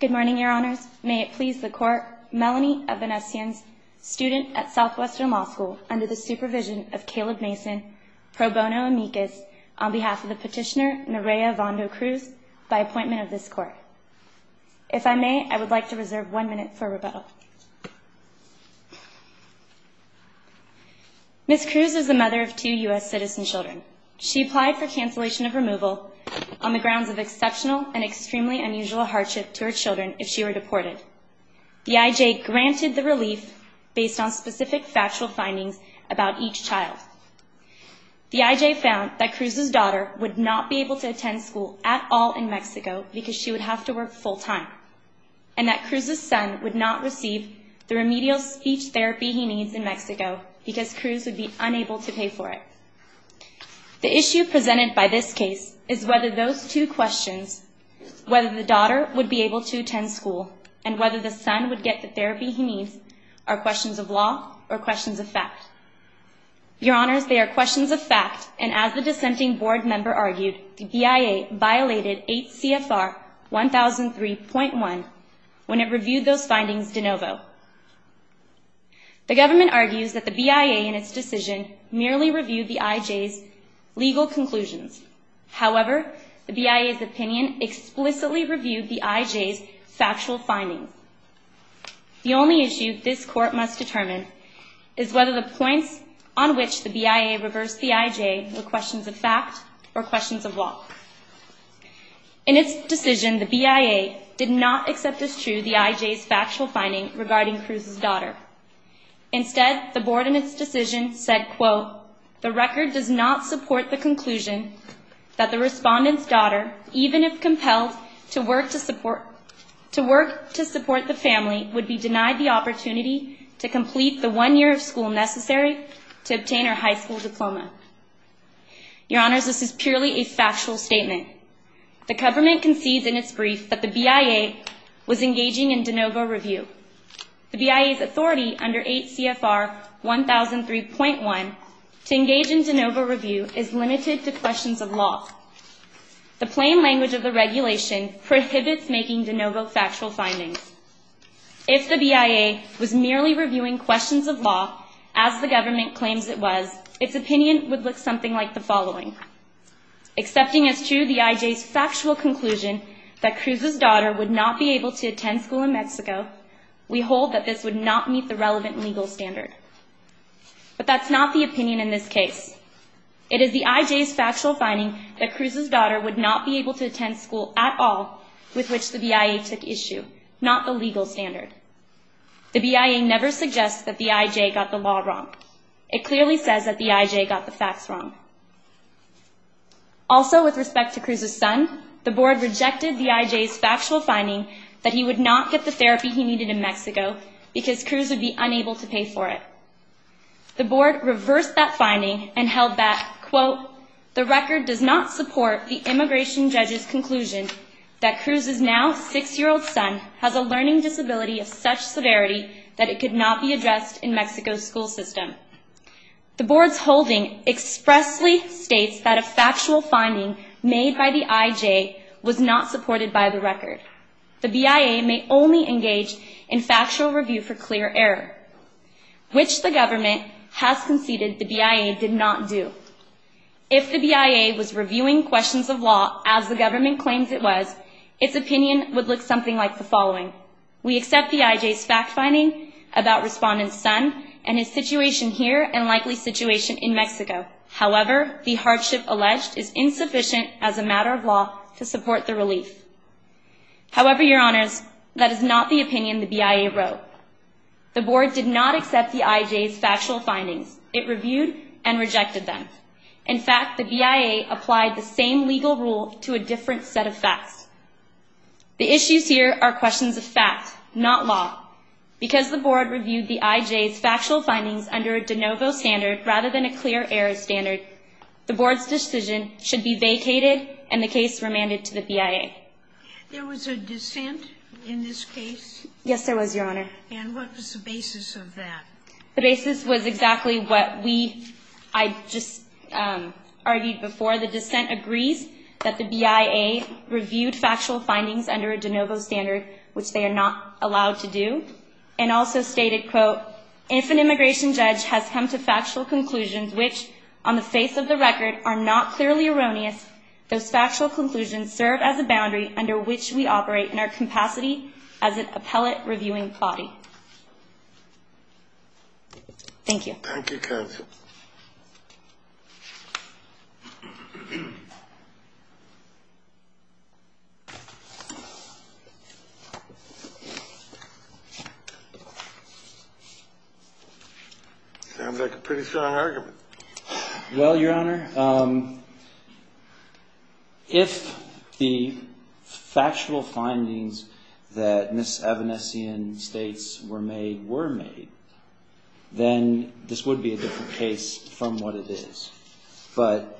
Good morning, Your Honors. May it please the Court, Melanie Evanesyan, student at Southwestern Law School, under the supervision of Caleb Mason, pro bono amicus, on behalf of the petitioner Nerea Vando Cruz, by appointment of this Court. If I may, I would like to reserve one minute for rebuttal. Ms. Cruz is the mother of two U.S. citizen children. She applied for cancellation of her children if she were deported. The I.J. granted the relief based on specific factual findings about each child. The I.J. found that Cruz's daughter would not be able to attend school at all in Mexico because she would have to work full-time, and that Cruz's son would not receive the remedial speech therapy he needs in Mexico because Cruz would be unable to pay for it. The issue presented by this case is whether those two questions, whether the daughter would be able to attend school, and whether the son would get the therapy he needs, are questions of law or questions of fact. Your Honors, they are questions of fact, and as the dissenting board member argued, the BIA violated 8 CFR 1003.1 when it reviewed those findings de novo. The government argues that the BIA, in its decision, merely reviewed the I.J.'s legal conclusions. However, the BIA's opinion explicitly reviewed the I.J.'s factual findings. The only issue this Court must determine is whether the points on which the BIA reversed the I.J. were questions of fact or questions of law. In its decision, the BIA did not accept as fact the decision regarding Cruz's daughter. Instead, the board, in its decision, said, quote, the record does not support the conclusion that the respondent's daughter, even if compelled to work to support the family, would be denied the opportunity to complete the one year of school necessary to obtain her high school diploma. Your Honors, this is purely a factual statement. The government concedes in its brief that the BIA was engaging in de novo review. The BIA's authority under 8 CFR 1003.1 to engage in de novo review is limited to questions of law. The plain language of the regulation prohibits making de novo factual findings. If the BIA was merely reviewing questions of law, as the government claims it was, its opinion would look something like the following. Accepting as true the I.J.'s factual conclusion that Cruz's daughter would not be able to attend school in Mexico, we hold that this would not meet the relevant legal standard. But that's not the opinion in this case. It is the I.J.'s factual finding that Cruz's daughter would not be able to attend school at all with which the BIA took issue, not the legal standard. The BIA never suggests that the I.J. got the law wrong. It clearly says that the I.J. got the facts wrong. Also, with respect to Cruz's son, the board rejected the I.J.'s factual finding that he would not get the therapy he needed in Mexico because Cruz would be unable to pay for it. The board reversed that finding and held that, quote, the record does not support the immigration judge's conclusion that Cruz's now six-year-old son has a learning disability of such severity that it could not be addressed in Mexico's school system. The board's holding expressly states that a factual finding made by the I.J. was not supported by the record. The BIA may only engage in factual review for clear error, which the government has conceded the BIA did not do. If the BIA was reviewing questions of law as the government claims it was, its opinion would look something like the following. We accept the I.J.'s fact finding about Respondent's son and his situation here and likely situation in Mexico. However, the hardship alleged is insufficient as a matter of law to support the relief. However, Your Honors, that is not the opinion the BIA wrote. The board did not accept the I.J.'s factual findings. It reviewed and rejected them. In fact, the BIA applied the same legal rule to a different set of facts. The issues here are questions of fact, not law. Because the board reviewed the I.J.'s factual findings under a de novo standard rather than a clear error standard, the board's decision should be vacated and the case remanded to the BIA. There was a dissent in this case? Yes, there was, Your Honor. And what was the basis of that? The basis was exactly what we, I just argued before. The dissent agrees that the BIA reviewed factual findings, which they are not allowed to do, and also stated, quote, if an immigration judge has come to factual conclusions which, on the face of the record, are not clearly erroneous, those factual conclusions serve as a boundary under which we operate in our capacity as an appellate reviewing body. Thank you. Sounds like a pretty strong argument. Well, Your Honor, if the factual findings that Ms. Evanesian states were made were made, then this would be a different case from what it is. But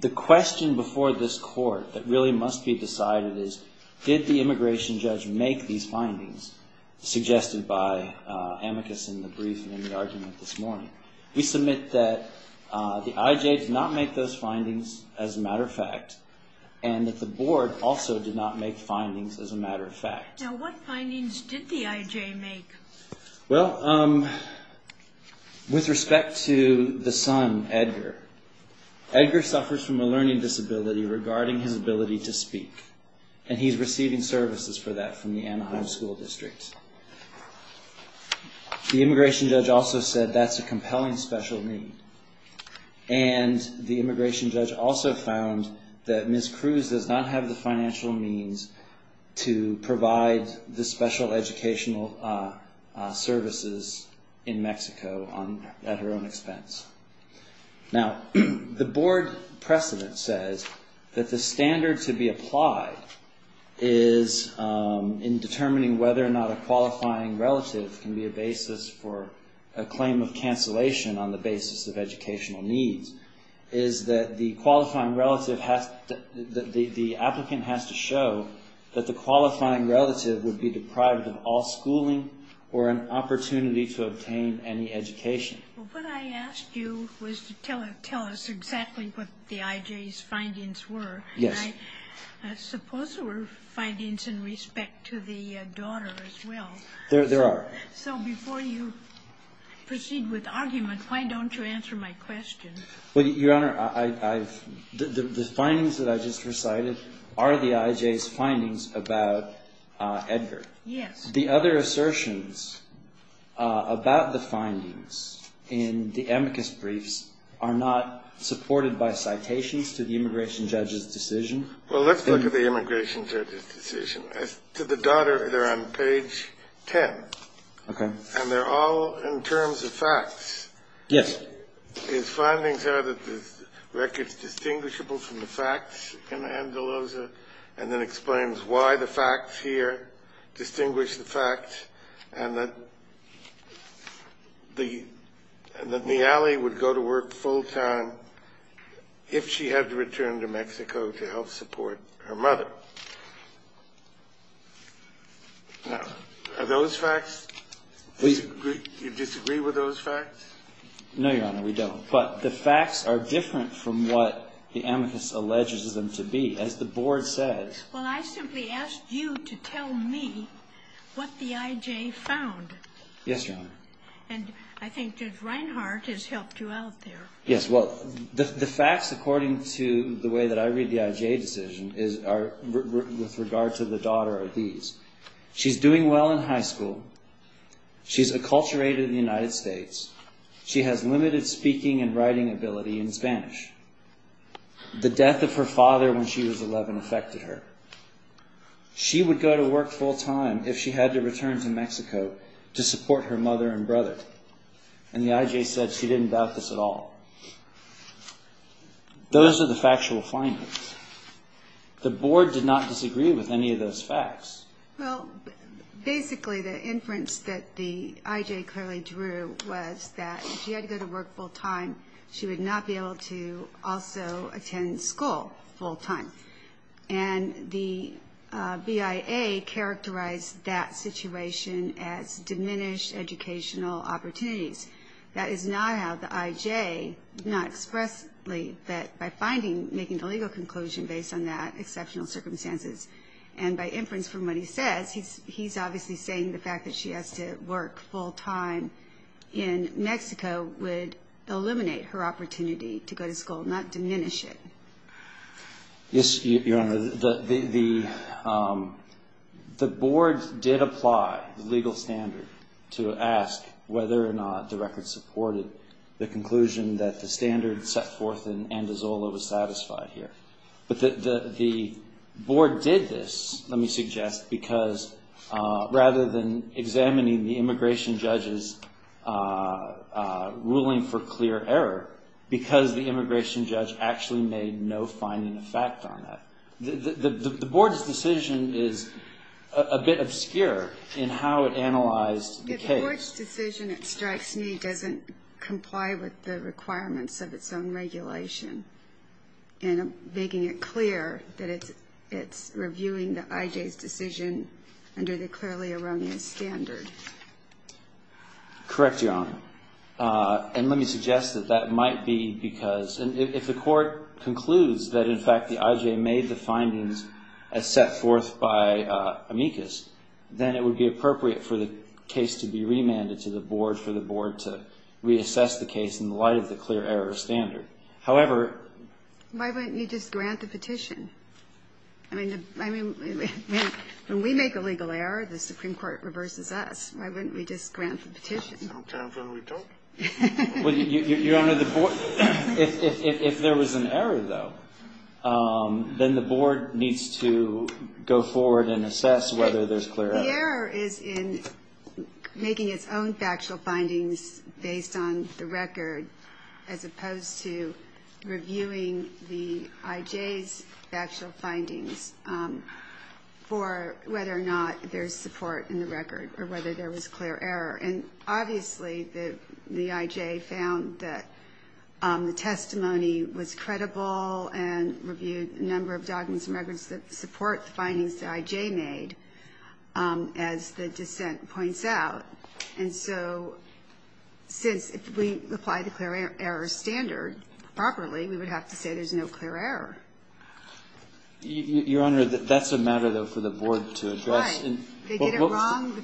the question before this Court that really must be decided is, did the immigration judge make these findings suggested by Amicus in the brief and in the argument this morning? We submit that the IJ did not make those findings, as a matter of fact, and that the board also did not make findings, as a matter of fact. Now, what findings did the IJ make? Well, with respect to the son, Edgar, Edgar suffers from a learning disability regarding his ability to speak, and he's receiving services for that from the Anaheim School District. The immigration judge also said that's a compelling special need, and the immigration judge also found that Ms. Cruz does not have the financial means to provide the special educational services in Mexico at her own expense. Now, the board precedent says that the standard to be applied is, in determining whether or not a qualifying relative can be a basis for a claim of cancellation on the basis of educational needs, is that the qualifying relative has to, the applicant has to show that the qualifying relative would be deprived of all schooling or an opportunity to attend college. Now, the board precedent says that the standard to be applied is, in determining whether or not a qualifying relative can be a basis for a claim of cancellation on the basis of educational needs, and the board precedent says that the qualifying relatives are not supported by citations to the immigration judge's decision. Well, let's look at the immigration judge's decision. To the daughter, they're on page 10. And they're all in terms of facts. His findings are that the record's distinguishable from the facts in Anzaloza, and then explains why the facts here distinguish the facts, and that Nealy would go to work full-time if she had to return to Mexico to help support her mother. Now, are those facts? Do you disagree with those facts? No, Your Honor, we don't. But the facts are different from what the amicus alleges them to be. Well, I simply asked you to tell me what the IJ found. Yes, Your Honor. And I think Judge Reinhart has helped you out there. Yes, well, the facts according to the way that I read the IJ decision are with regard to the daughter are these. She's doing well in high school. She's acculturated in the United States. She has limited speaking and writing ability in Spanish. The death of her father when she was 11 affected her. She would go to work full-time if she had to return to Mexico to support her mother and brother. And the IJ said she didn't doubt this at all. Those are the factual findings. The Board did not disagree with any of those facts. Well, basically the inference that the IJ clearly drew was that if she had to go to work full-time, she would not be able to also attend school full-time. And the BIA characterized that situation as diminished educational opportunities. That is not how the IJ not expressly that by finding, making a legal conclusion based on that exceptional circumstances. And by inference from what he says, he's obviously saying the fact that she has to work full-time in Mexico would eliminate her opportunity to go to school, not diminish it. Yes, Your Honor. The Board did apply the legal standard to ask whether or not the record supported the conclusion that the standard set forth in Andazola was satisfied here. But the Board did this, let me suggest, because rather than examining the immigration judge's ruling for clear error, because the immigration judge actually made no finding of fact on that. The Board's decision is a bit obscure in how it analyzed the case. The Board's decision, it strikes me, doesn't comply with the requirements of its own regulation in making it clear that it's reviewing the IJ's decision under the clearly erroneous standard. Correct, Your Honor. And let me suggest that that might be because if the Court concludes that in fact the IJ made the findings as set forth by amicus, then it would be appropriate for the case to be remanded to the Board for the Board to reassess the case in light of the clear error standard. However... Why wouldn't you just grant the petition? I mean, when we make a legal error, the Supreme Court reverses us. Why wouldn't we just grant the petition? Well, Your Honor, if there was an error, though, then the Board needs to go forward and assess whether there's clear error. The error is in making its own factual findings based on the record, as opposed to reviewing the IJ's factual findings for whether or not there's support in the record or whether there was clear error. And obviously the IJ found that the testimony was credible and reviewed a number of documents and records that support the findings the IJ made, as the dissent points out. And so since we apply the clear error standard properly, we would have to say there's no clear error. Your Honor, that's a matter, though, for the Board to address. Well, Your Honor,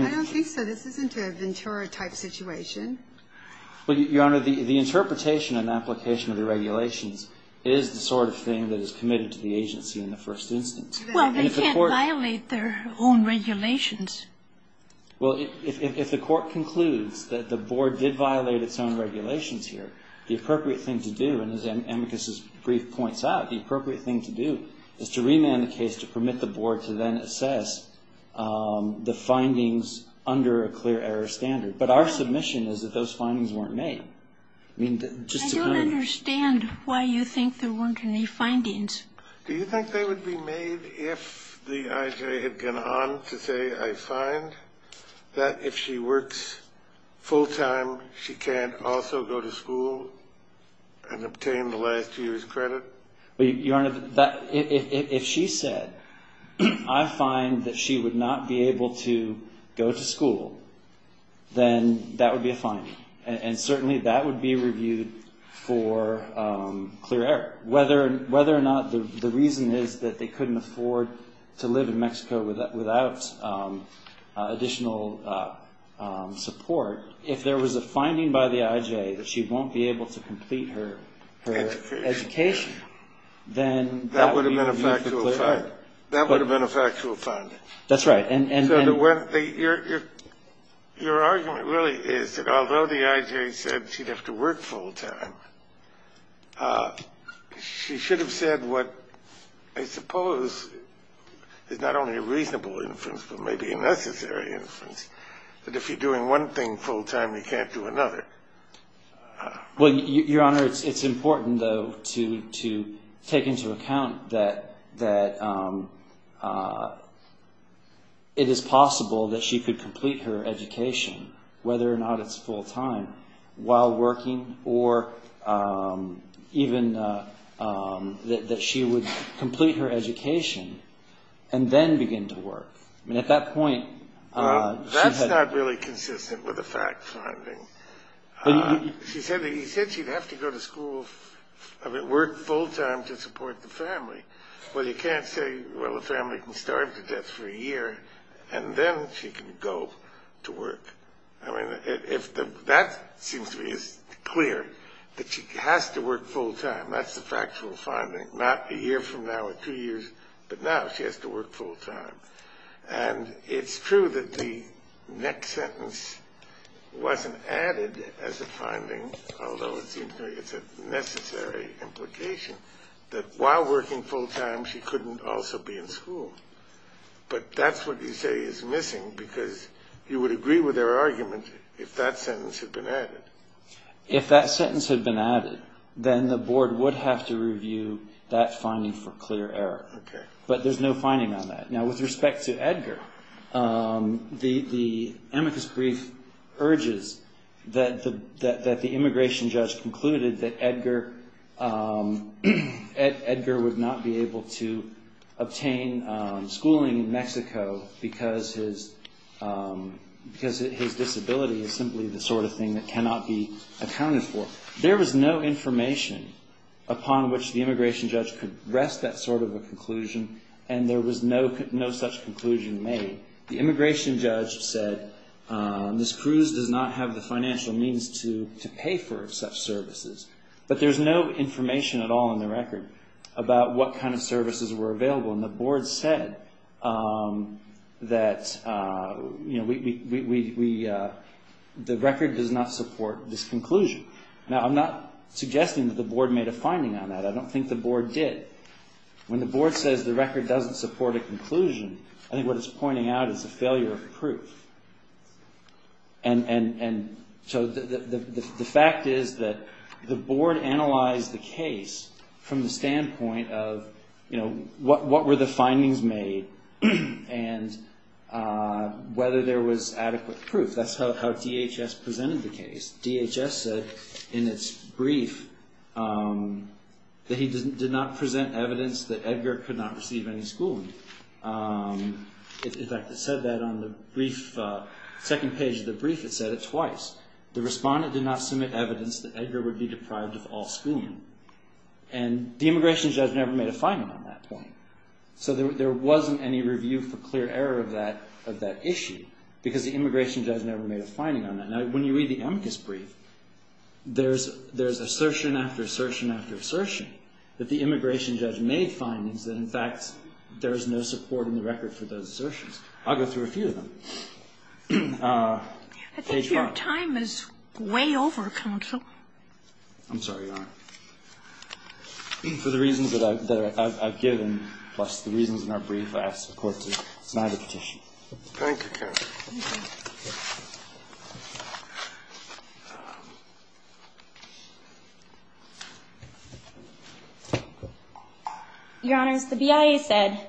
I don't think so. This isn't a Ventura-type situation. Well, Your Honor, the interpretation and application of the regulations is the sort of thing that is committed to the agency in the first instance. Well, they can't violate their own regulations. Well, if the Court concludes that the Board did violate its own regulations here, the appropriate thing to do, and as Amicus's argument, is to remand the case to permit the Board to then assess the findings under a clear error standard. But our submission is that those findings weren't made. I mean, just to kind of ---- I don't understand why you think there weren't any findings. Do you think they would be made if the IJ had gone on to say, I find that if she works full-time, she can't also go to school and obtain the last year's credit? Your Honor, if she said, I find that she would not be able to go to school, then that would be a finding. And certainly that would be reviewed for clear error. Whether or not the reason is that they couldn't afford to live in Mexico without additional support, if there was a finding by the IJ that she won't be able to complete her education, then that would be reviewed for clear error. That would have been a factual finding. That's right. Your argument really is that although the IJ said she'd have to work full-time, she should have said what I suppose is not only a reasonable inference, but maybe a necessary inference, that if you're doing one thing full-time, you can't do another. Well, Your Honor, it's important, though, to take into account that it is possible that she could complete her education, whether or not it's full-time, while working, or even that she would complete her education and then begin to work. That's not really consistent with the fact finding. She said she'd have to go to school, work full-time to support the family. Well, you can't say, well, the family can starve to death for a year and then she can go to work. I mean, that seems to be clear, that she has to work full-time. That's the factual finding, not a year from now or two years, but now she has to work full-time. And it's true that the next sentence wasn't added as a finding, although it seems to me it's a necessary implication, that while working full-time, she couldn't also be in school. But that's what you say is missing, because you would agree with our argument if that sentence had been added. If that sentence had been added, then the board would have to review that finding for clear error. But there's no finding on that. Now, with respect to Edgar, the amicus brief urges that the immigration judge concluded that Edgar would not be able to obtain schooling in Mexico because his disability is simply the sort of thing that cannot be accounted for. There was no information upon which the immigration judge could rest that sort of a conclusion, and there was no such conclusion made. The immigration judge said, this cruise does not have the financial means to pay for such services. But there's no information at all in the record about what kind of services were available. And the board said that the record does not support this conclusion. Now, I'm not suggesting that the board made a finding on that. I don't think the board did. When the board says the record doesn't support a conclusion, I think what it's pointing out is a failure of proof. And so the fact is that the board analyzed the case from the standpoint of, you know, what were the findings made and whether there was adequate proof. That's how DHS presented the case. DHS said in its brief that he did not present evidence that Edgar could not receive any schooling. In fact, it said that on the second page of the brief, it said it twice. The respondent did not submit evidence that Edgar would be deprived of all schooling. And the immigration judge never made a finding on that point. So there wasn't any review for clear error of that issue, because the immigration judge never made a finding on that. Now, when you read the Amicus brief, there's assertion after assertion after assertion that the immigration judge never made findings that, in fact, there is no support in the record for those assertions. I'll go through a few of them. Page 4. I think your time is way over, counsel. I'm sorry, Your Honor. For the reasons that I've given, plus the reasons in our brief, I ask the Court to deny the petition. Thank you, counsel. Thank you. Your Honors, the BIA said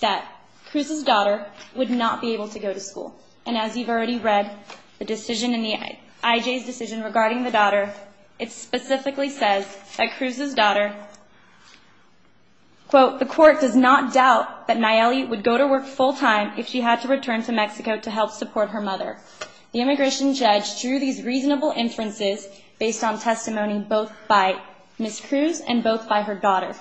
that Cruz's daughter would not be able to go to school. And as you've already read, the decision in the IJ's decision regarding the daughter, it specifically says that Cruz's daughter, quote, the Court does not doubt that Nayeli would go to work full time if she had to return to Mexico to help support her family. The immigration judge drew these reasonable inferences based on testimony both by Ms. Cruz and both by her daughter.